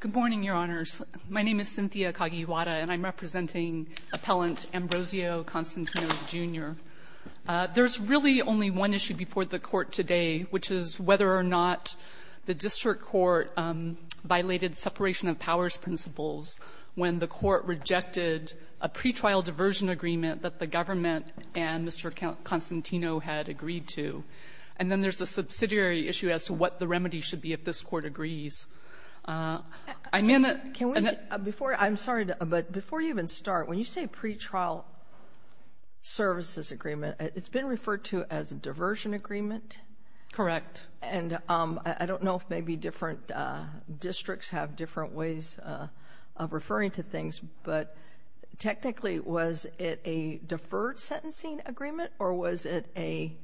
Good morning, Your Honors. My name is Cynthia Kagiwara, and I'm representing Appellant Ambrosio Constantino, Jr. There's really only one issue before the Court today, which is whether or not the District Court violated separation of powers principles when the Court rejected a pretrial diversion agreement that the government and Mr. Constantino had agreed to. And then there's a subsidiary issue as to what the remedy should be if this Court agrees. I'm in it. Can we, before, I'm sorry, but before you even start, when you say pretrial services agreement, it's been referred to as a diversion agreement? Correct. And I don't know if maybe different districts have different ways of referring to things, but technically, was it a deferred sentencing agreement, or was it a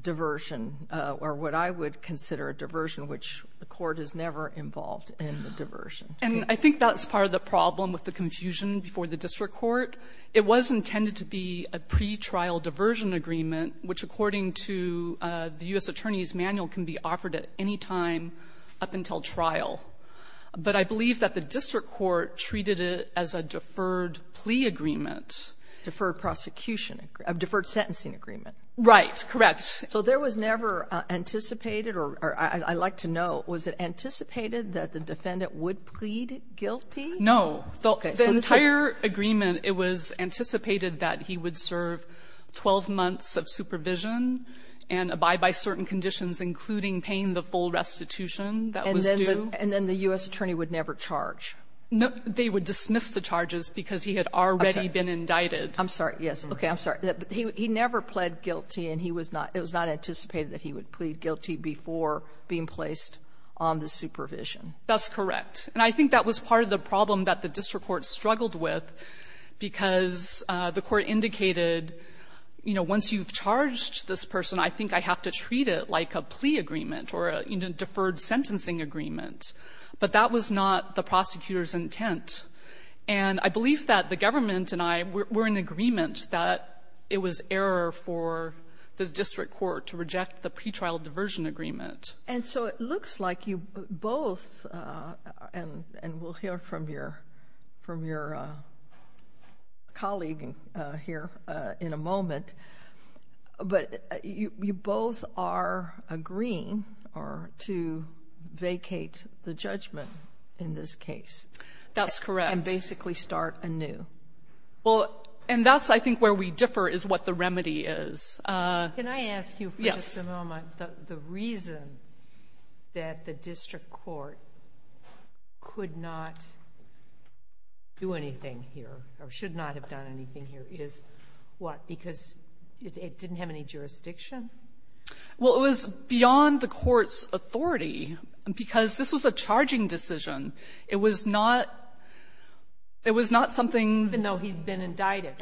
diversion, or what I would consider a diversion, which the Court is never involved in the diversion? And I think that's part of the problem with the confusion before the District Court. It was intended to be a pretrial diversion agreement, which, according to the U.S. Attorney's Manual, can be offered at any time up until trial. But I believe that the District Court treated it as a deferred plea agreement. Deferred prosecution. A deferred sentencing agreement. Right. Correct. So there was never anticipated, or I'd like to know, was it anticipated that the defendant would plead guilty? No. Okay. The entire agreement, it was anticipated that he would serve 12 months of supervision and abide by certain conditions, including paying the full restitution that was due. And then the U.S. Attorney would never charge? No. They would dismiss the charges because he had already been indicted. I'm sorry. Yes. Okay. I'm sorry. He never pled guilty, and he was not — it was not anticipated that he would plead guilty before being placed on the supervision. That's correct. And I think that was part of the problem that the District Court struggled with, because the Court indicated, you know, once you've charged this person, I think I have to treat it like a plea agreement or a deferred sentencing agreement. But that was not the prosecutor's intent. And I believe that the government and I were in agreement that it was error for the District Court to reject the pretrial diversion agreement. And so it looks like you both — and we'll hear from your colleague here in a moment — but you both are agreeing to vacate the judgment in this case. That's correct. And basically start anew. Well, and that's, I think, where we differ, is what the remedy is. Can I ask you for just a moment? Yes. The reason that the District Court could not do anything here, or should not have done anything here, is what? Because it didn't have any jurisdiction? Well, it was beyond the court's authority, because this was a charging decision. It was not — it was not something — Even though he's been indicted.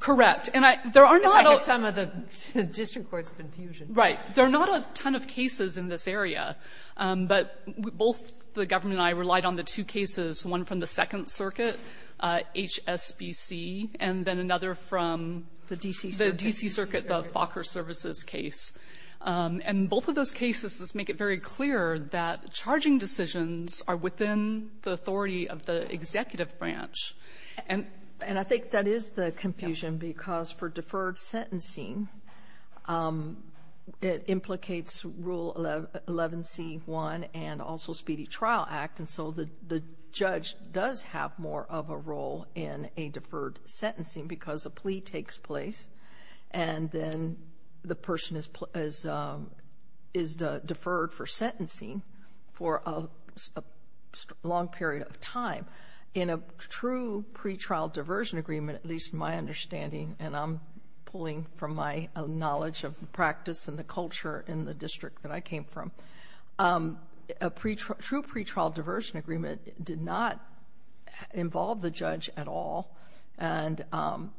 Correct. And I — there are not — Because I hear some of the District Court's confusion. Right. There are not a ton of cases in this area. But both the government and I relied on the two cases, one from the Second Circuit, HSBC, and then another from — The D.C. Circuit. The D.C. Circuit, the Fokker Services case. And both of those cases make it very clear that charging decisions are within the authority of the executive branch. And — And I think that is the confusion, because for deferred sentencing, it implicates Rule 11c-1 and also Speedy Trial Act. And so the judge does have more of a role in a deferred sentencing, because a plea takes place, and then the person is — is deferred for sentencing for a long period of time. In a true pretrial diversion agreement, at least in my understanding, and I'm pulling from my knowledge of the practice and the culture in the district that I came from, a true pretrial diversion agreement did not involve the judge at all. And I'm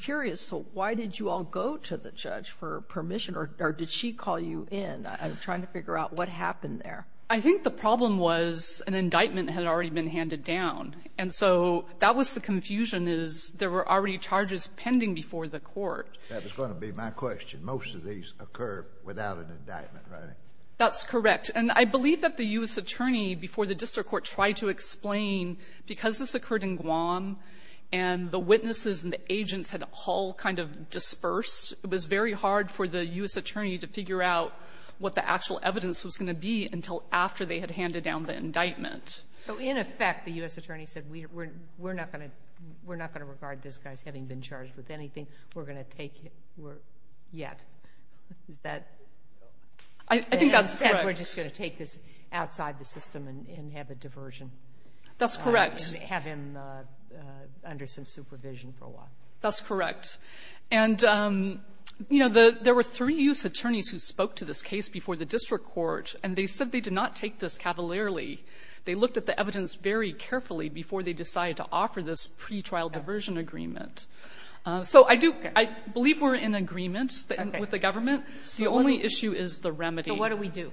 curious, so why did you all go to the judge for permission, or did she call you in? I'm trying to figure out what happened there. I think the problem was an indictment had already been handed down. And so that was the confusion, is there were already charges pending before the court. That was going to be my question. Most of these occur without an indictment, right? That's correct. And I believe that the U.S. attorney before the district court tried to explain, because this occurred in Guam, and the witnesses and the agents had all kind of dispersed, it was very hard for the U.S. attorney to figure out what the actual evidence was going to be until after they had handed down the indictment. So in effect, the U.S. attorney said, we're not going to — we're not going to regard this guy as having been charged with anything. We're going to take — we're — yet. Is that — I think that's correct. Instead, we're just going to take this outside the system and have a diversion. That's correct. And have him under some supervision for a while. That's correct. And, you know, the — there were three U.S. attorneys who spoke to this case before the district court, and they said they did not take this cavalierly. They looked at the evidence very carefully before they decided to offer this pretrial diversion agreement. So I do — I believe we're in agreement with the government. The only issue is the remedy. But what do we do?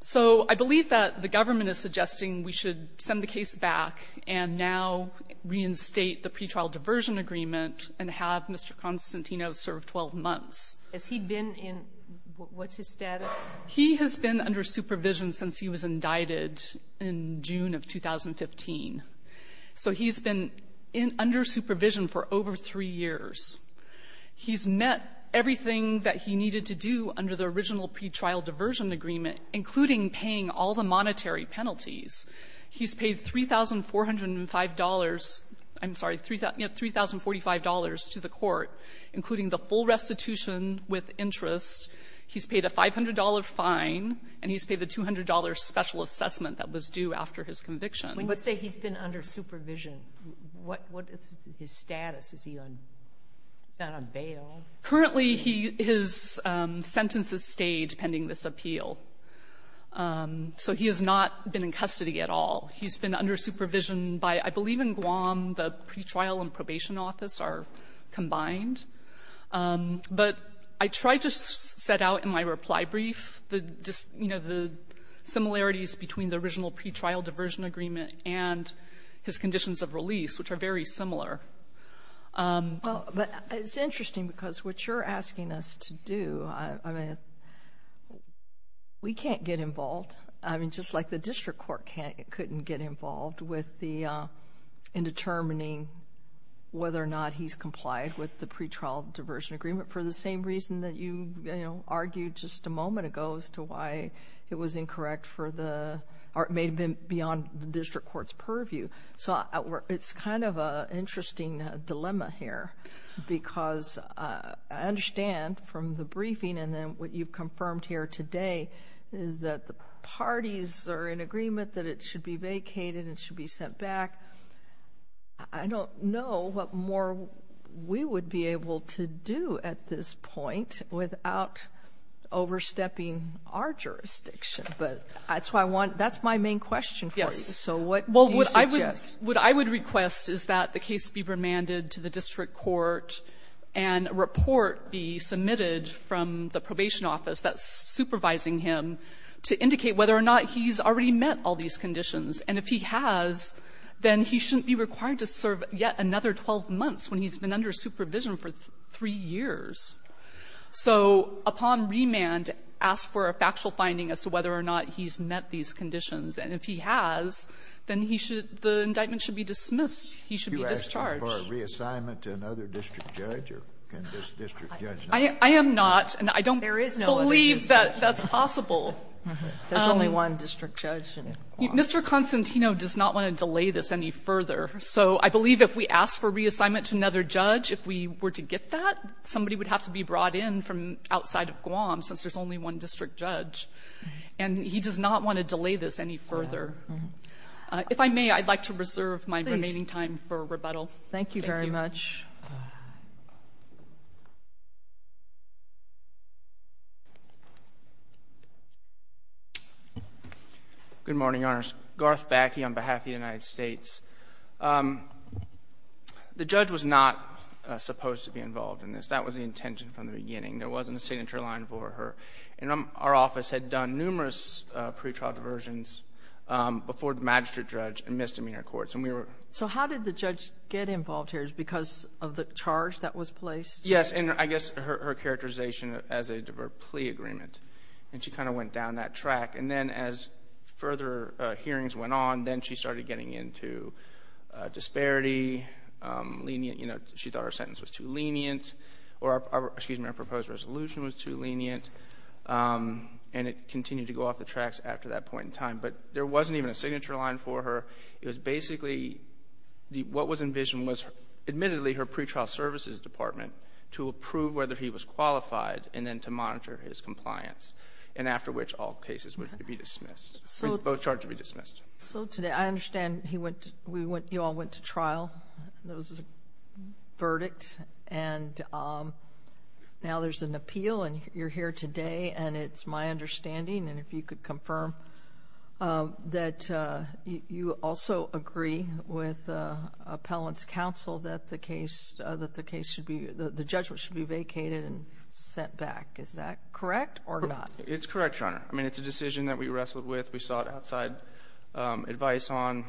So I believe that the government is suggesting we should send the case back and now reinstate the pretrial diversion agreement and have Mr. Constantino serve 12 months. Has he been in — what's his status? He has been under supervision since he was indicted in June of 2015. So he's been in — under supervision for over three years. He's met everything that he needed to do under the original pretrial diversion agreement, including paying all the monetary penalties. He's paid $3,405 — I'm sorry, you know, $3,045 to the court, including the full restitution with interest. He's paid a $500 fine, and he's paid the $200 special assessment that was due after his conviction. But say he's been under supervision. What is his status? Is he on — is that on bail? Currently, he — his sentences stayed pending this appeal. So he has not been in custody at all. He's been under supervision by — I believe in Guam the pretrial and probation office are combined. But I tried to set out in my reply brief the — you know, the similarities between the original pretrial diversion agreement and his conditions of release, which are very similar. But it's interesting because what you're asking us to do, I mean, we can't get involved. I mean, just like the district court can't — couldn't get involved with the — in determining whether or not he's complied with the pretrial diversion agreement for the same reason that you, you know, argued just a moment ago as to why it was incorrect for the — or it may have been beyond the district court's purview. So it's kind of an interesting dilemma here because I understand from the briefing and then what you've confirmed here today is that the parties are in agreement that it should be vacated and it should be sent back. I don't know what more we would be able to do at this point without overstepping our jurisdiction. But that's why I want — that's my main question for you. So what do you suggest? Well, what I would — what I would request is that the case be remanded to the district court and a report be submitted from the probation office that's supervising him to indicate whether or not he's already met all these conditions. And if he has, then he shouldn't be required to serve yet another 12 months when he's been under supervision for three years. So upon remand, ask for a factual finding as to whether or not he's met these conditions. And if he has, then he should — the indictment should be dismissed. He should be discharged. You're asking for a reassignment to another district judge, or can this district judge not? I am not, and I don't believe that that's possible. There's only one district judge in Guam. Mr. Constantino does not want to delay this any further. So I believe if we ask for reassignment to another judge, if we were to get that, somebody would have to be brought in from outside of Guam since there's only one district judge. And he does not want to delay this any further. If I may, I'd like to reserve my remaining time for rebuttal. Thank you. Thank you very much. Good morning, Your Honors. Garth Backe on behalf of the United States. The judge was not supposed to be involved in this. That was the intention from the beginning. There wasn't a signature line for her. And our office had done numerous pretrial diversions before the magistrate judge and misdemeanor courts. So how did the judge get involved here? Is it because of the charge that was placed? Yes, and I guess her characterization as a plea agreement. And she kind of went down that track. And then as further hearings went on, then she started getting into disparity, lenient. You know, she thought her sentence was too lenient, or excuse me, her proposed resolution was too lenient, and it continued to go off the tracks after that point in time. But there wasn't even a signature line for her. It was basically, what was envisioned was, admittedly, her pretrial services department to approve whether he was qualified, and then to monitor his compliance. And after which, all cases would be dismissed. Both charges would be dismissed. So today, I understand you all went to trial. There was a verdict. And now there's an appeal, and you're here today. And it's my understanding, and if you could confirm, that you also agree with appellant's counsel that the case should be, the judgment should be vacated and sent back. Is that correct or not? It's correct, Your Honor. I mean, it's a decision that we wrestled with. We sought outside advice on,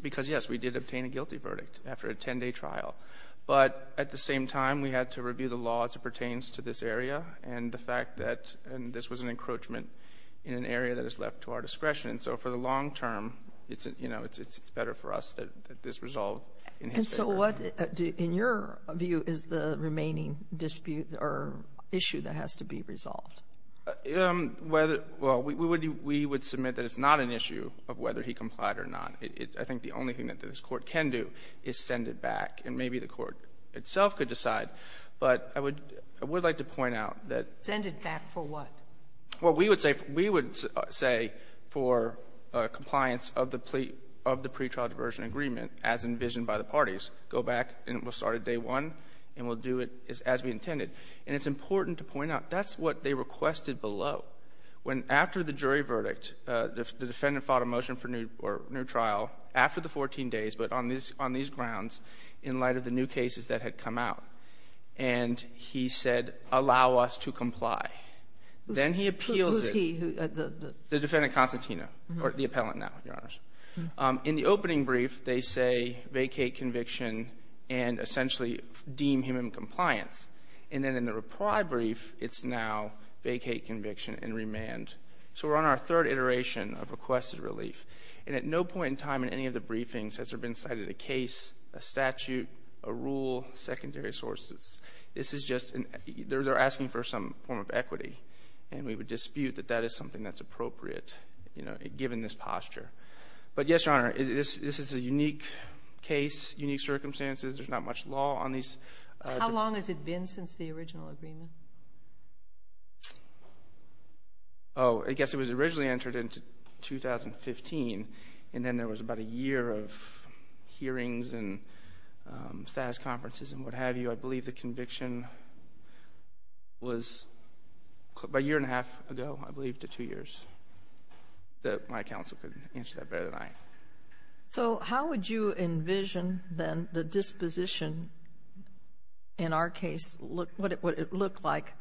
because, yes, we did obtain a guilty verdict after a 10-day trial, but at the same time, we had to review the law as it pertains to this area, and the fact that, and this was an encroachment in an area that is left to our discretion. So for the long term, it's, you know, it's better for us that this resolved in his favor. And so what, in your view, is the remaining dispute or issue that has to be resolved? Whether, well, we would submit that it's not an issue of whether he complied or not. I think the only thing that this Court can do is send it back, and maybe the Court itself could decide. But I would like to point out that — Send it back for what? Well, we would say for compliance of the pretrial diversion agreement as envisioned by the parties. Go back, and we'll start at day one, and we'll do it as we intended. And it's important to point out, that's what they requested below. When after the jury verdict, the defendant filed a motion for new trial after the 14 days, but on these grounds, in light of the new cases that had come out. And he said, allow us to comply. Then he appeals it. Who's he? The defendant, Constantino, or the appellant now, Your Honors. In the opening brief, they say vacate conviction and essentially deem him in compliance. And then in the reply brief, it's now vacate conviction and remand. So we're on our third iteration of requested relief. And at no point in time in any of the briefings has there been cited a case, a statute, a rule, secondary sources. This is just — they're asking for some form of equity. And we would dispute that that is something that's appropriate, you know, given this posture. But yes, Your Honor, this is a unique case, unique circumstances. There's not much law on these — How long has it been since the original agreement? Oh, I guess it was originally entered into 2015. And then there was about a year of hearings and status conferences and what have you. I believe the conviction was about a year and a half ago, I believe, to two years. My counsel could answer that better than I. So how would you envision, then, the disposition in our case, what it would look like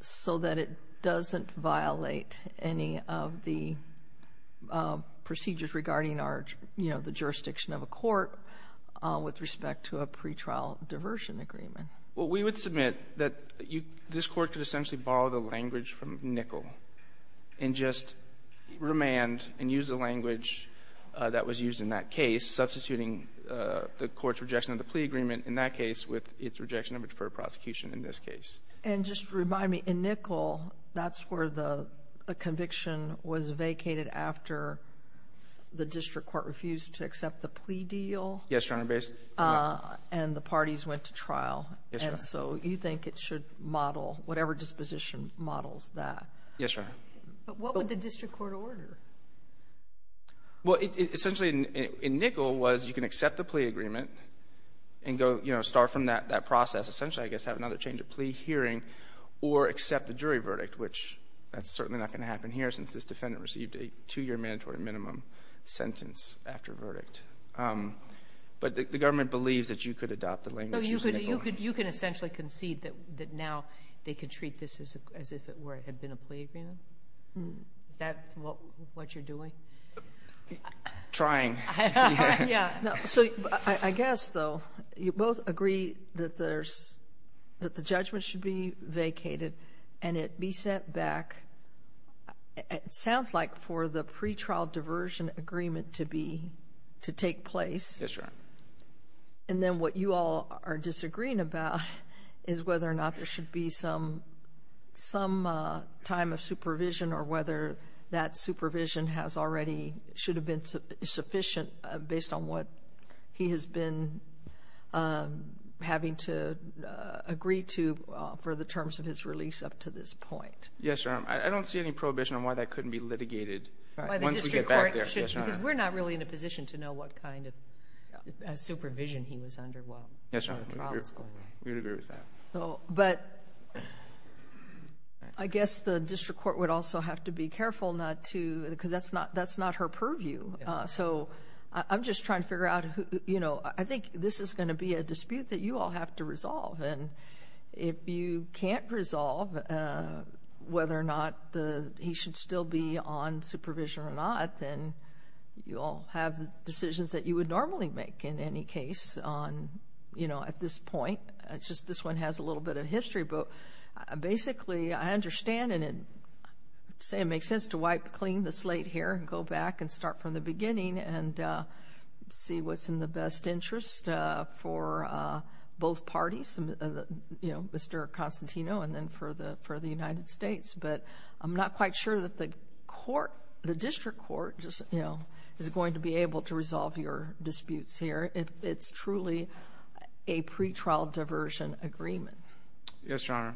so that it doesn't violate any of the procedures regarding our, you know, the jurisdiction of a court with respect to a pretrial diversion agreement? Well, we would submit that this court could essentially borrow the language from that was used in that case, substituting the court's rejection of the plea agreement in that case with its rejection of a deferred prosecution in this case. And just remind me, in Nichol, that's where the conviction was vacated after the district court refused to accept the plea deal? Yes, Your Honor, based — And the parties went to trial. Yes, Your Honor. And so you think it should model whatever disposition models that? Yes, Your Honor. But what would the district court order? Well, essentially, in Nichol, was you can accept the plea agreement and go, you know, start from that process. Essentially, I guess, have another change of plea hearing or accept the jury verdict, which that's certainly not going to happen here since this defendant received a two-year mandatory minimum sentence after verdict. But the government believes that you could adopt the language used in Nichol. You can essentially concede that now they could treat this as if it were — had been a plea agreement? Is that what you're doing? Trying. Yeah. So, I guess, though, you both agree that there's — that the judgment should be vacated and it be sent back — it sounds like for the pretrial diversion agreement to be — to take place. Yes, Your Honor. And then what you all are disagreeing about is whether or not there should be some time of supervision or whether that supervision has already — should have been sufficient based on what he has been having to agree to for the terms of his release up to this point. Yes, Your Honor. I don't see any prohibition on why that couldn't be litigated once we get back there. Because we're not really in a position to know what kind of supervision he was under while the trial was going on. Yes, Your Honor. We would agree with that. But I guess the district court would also have to be careful not to — because that's not — that's not her purview. So, I'm just trying to figure out who — you know, I think this is going to be a dispute that you all have to resolve. And if you can't resolve whether or not the — he should still be on supervision or not, then you all have decisions that you would normally make in any case on, you know, at this point. It's just this one has a little bit of history. But basically, I understand and say it makes sense to wipe clean the slate here and go back and start from the beginning and see what's in the best interest for both parties, you know, Mr. Constantino and then for the United States. But I'm not quite sure that the court — the district court, you know, is going to be able to resolve your disputes here. It's truly a pretrial diversion agreement. Yes, Your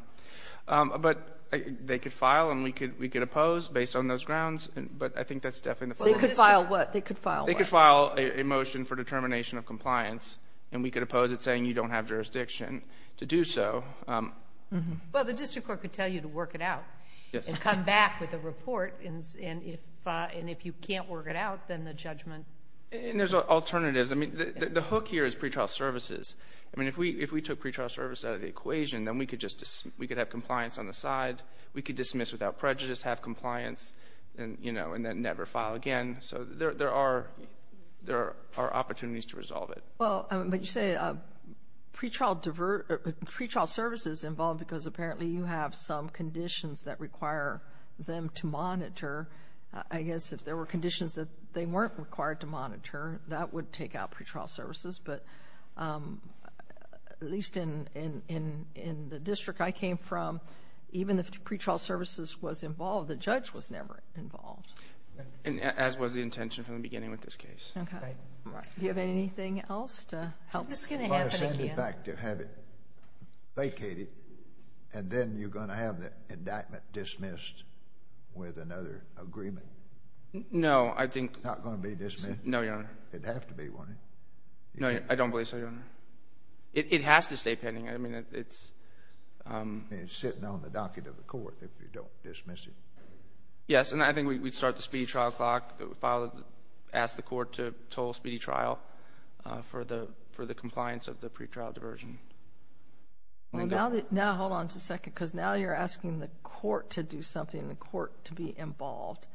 Honor. But they could file and we could oppose based on those grounds. But I think that's definitely — They could file what? They could file what? They could file a motion for determination of compliance and we could oppose it saying you don't have jurisdiction to do so. Well, the district court could tell you to work it out and come back with a report. And if you can't work it out, then the judgment — And there's alternatives. I mean, the hook here is pretrial services. I mean, if we took pretrial services out of the equation, then we could have compliance on the side. We could dismiss without prejudice, have compliance, and, you know, and then never file again. So there are opportunities to resolve it. Well, but you say pretrial services involved because apparently you have some conditions that require them to monitor. I guess if there were conditions that they weren't required to monitor, that would take out pretrial services. But at least in the district I came from, even if pretrial services was involved, the judge was never involved. As was the intention from the beginning with this case. Okay. Right. Do you have anything else to help? This is going to happen again. I'm going to send it back to have it vacated and then you're going to have the indictment dismissed with another agreement. No, I think. It's not going to be dismissed? No, Your Honor. It'd have to be, wouldn't it? No, I don't believe so, Your Honor. It has to stay pending. I mean, it's... It's sitting on the docket of the court if you don't dismiss it. Yes, and I think we'd start the speedy trial clock, ask the court to toll speedy trial for the compliance of the pretrial diversion. Now, hold on just a second, because now you're asking the court to do something, the court to be involved.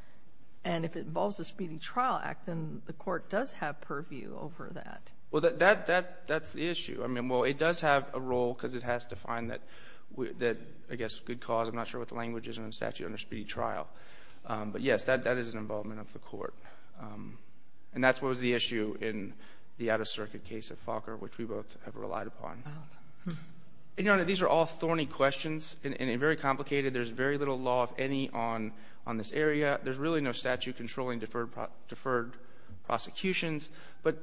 And if it involves the speedy trial act, then the court does have purview over that. Well, that's the issue. I mean, well, it does have a role because it has to find that, I guess, good cause. I'm not sure what the language is in the statute under speedy trial. But yes, that is an involvement of the court. And that's what was the issue in the out-of-circuit case of Falker, which we both have relied upon. And, Your Honor, these are all thorny questions and very complicated. There's very little law, if any, on this area. There's really no statute controlling deferred prosecutions. But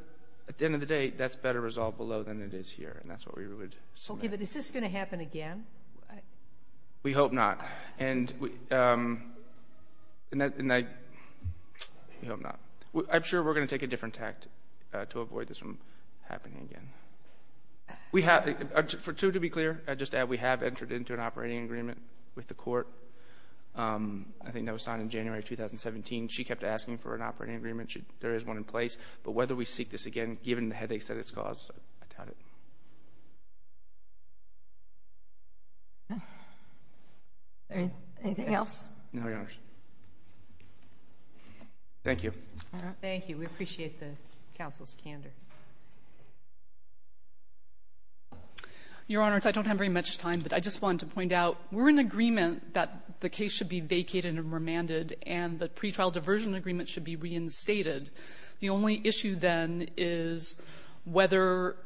at the end of the day, that's better resolved below than it is here. And that's what we would submit. Okay, but is this going to happen again? We hope not. And I... We hope not. I'm sure we're going to take a different tact to avoid this from happening again. For two, to be clear, I'd just add we have entered into an operating agreement with the court. I think that was signed in January of 2017. She kept asking for an operating agreement. There is one in place. But whether we seek this again, given the headaches that it's caused, I doubt it. Anything else? No, Your Honors. Thank you. Thank you. We appreciate the counsel's candor. Your Honors, I don't have very much time. But I just wanted to point out we're in agreement that the case should be vacated and remanded, and the pretrial diversion agreement should be reinstated. The only issue, then, is whether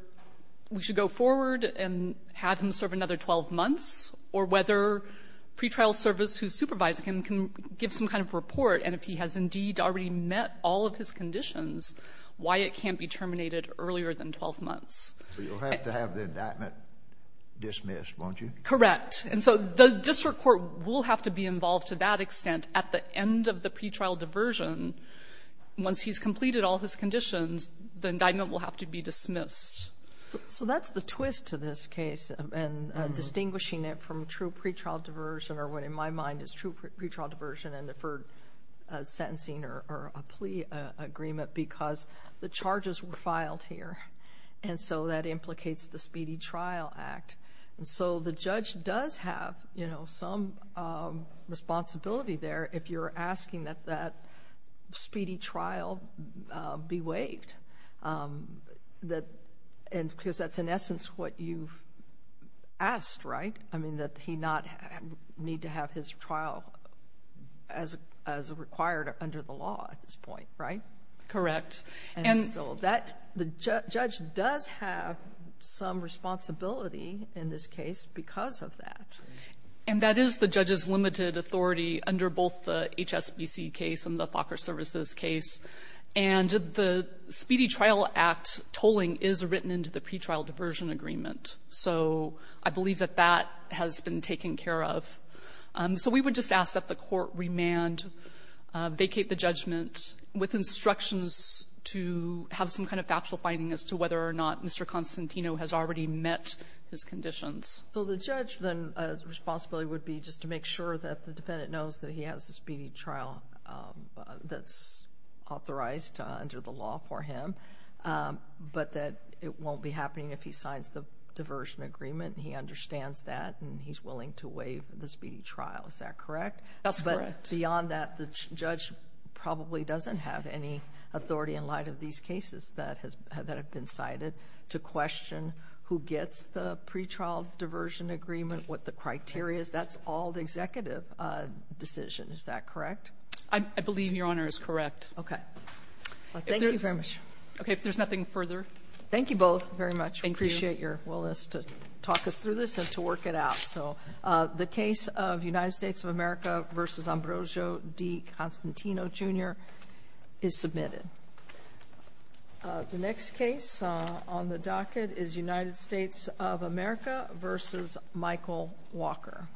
we should go forward and have him serve another 12 months, or whether pretrial service who's supervising him can give some kind of report, and if he has indeed already met all of his conditions, why it can't be terminated earlier than 12 months. You'll have to have the indictment dismissed, won't you? Correct. And so the district court will have to be involved to that extent at the end of the pretrial diversion. Once he's completed all his conditions, the indictment will have to be dismissed. So that's the twist to this case, and distinguishing it from true pretrial diversion, or what in my mind is true pretrial diversion and deferred sentencing or a plea agreement, because the charges were filed here. And so that implicates the Speedy Trial Act. And so the judge does have, you know, some responsibility there if you're asking that that speedy trial be waived. And because that's, in essence, what you asked, right? I mean, that he not need to have his trial as required under the law at this point, right? Correct. And so that the judge does have some responsibility in this case because of that. And that is the judge's limited authority under both the HSBC case and the FOCR services case. And the Speedy Trial Act tolling is written into the pretrial diversion agreement. So I believe that that has been taken care of. So we would just ask that the court remand, vacate the judgment with instructions to have some kind of factual finding as to whether or not Mr. Constantino has already met his conditions. So the judge then's responsibility would be just to make sure that the defendant knows that he has a speedy trial that's authorized under the law for him, but that it won't be happening if he signs the diversion agreement and he understands that and he's willing to waive the speedy trial. Is that correct? That's correct. But beyond that, the judge probably doesn't have any authority in light of these cases that have been cited to question who gets the pretrial diversion agreement, what the criteria is. That's all the executive decision. Is that correct? I believe Your Honor is correct. Okay. Thank you very much. Okay. If there's nothing further. Thank you both very much. Thank you. We appreciate your willingness to talk us through this and to work it out. So the case of United States of America v. Ambrosio D. Constantino, Jr. is submitted. The next case on the docket is United States of America v. Michael Walker.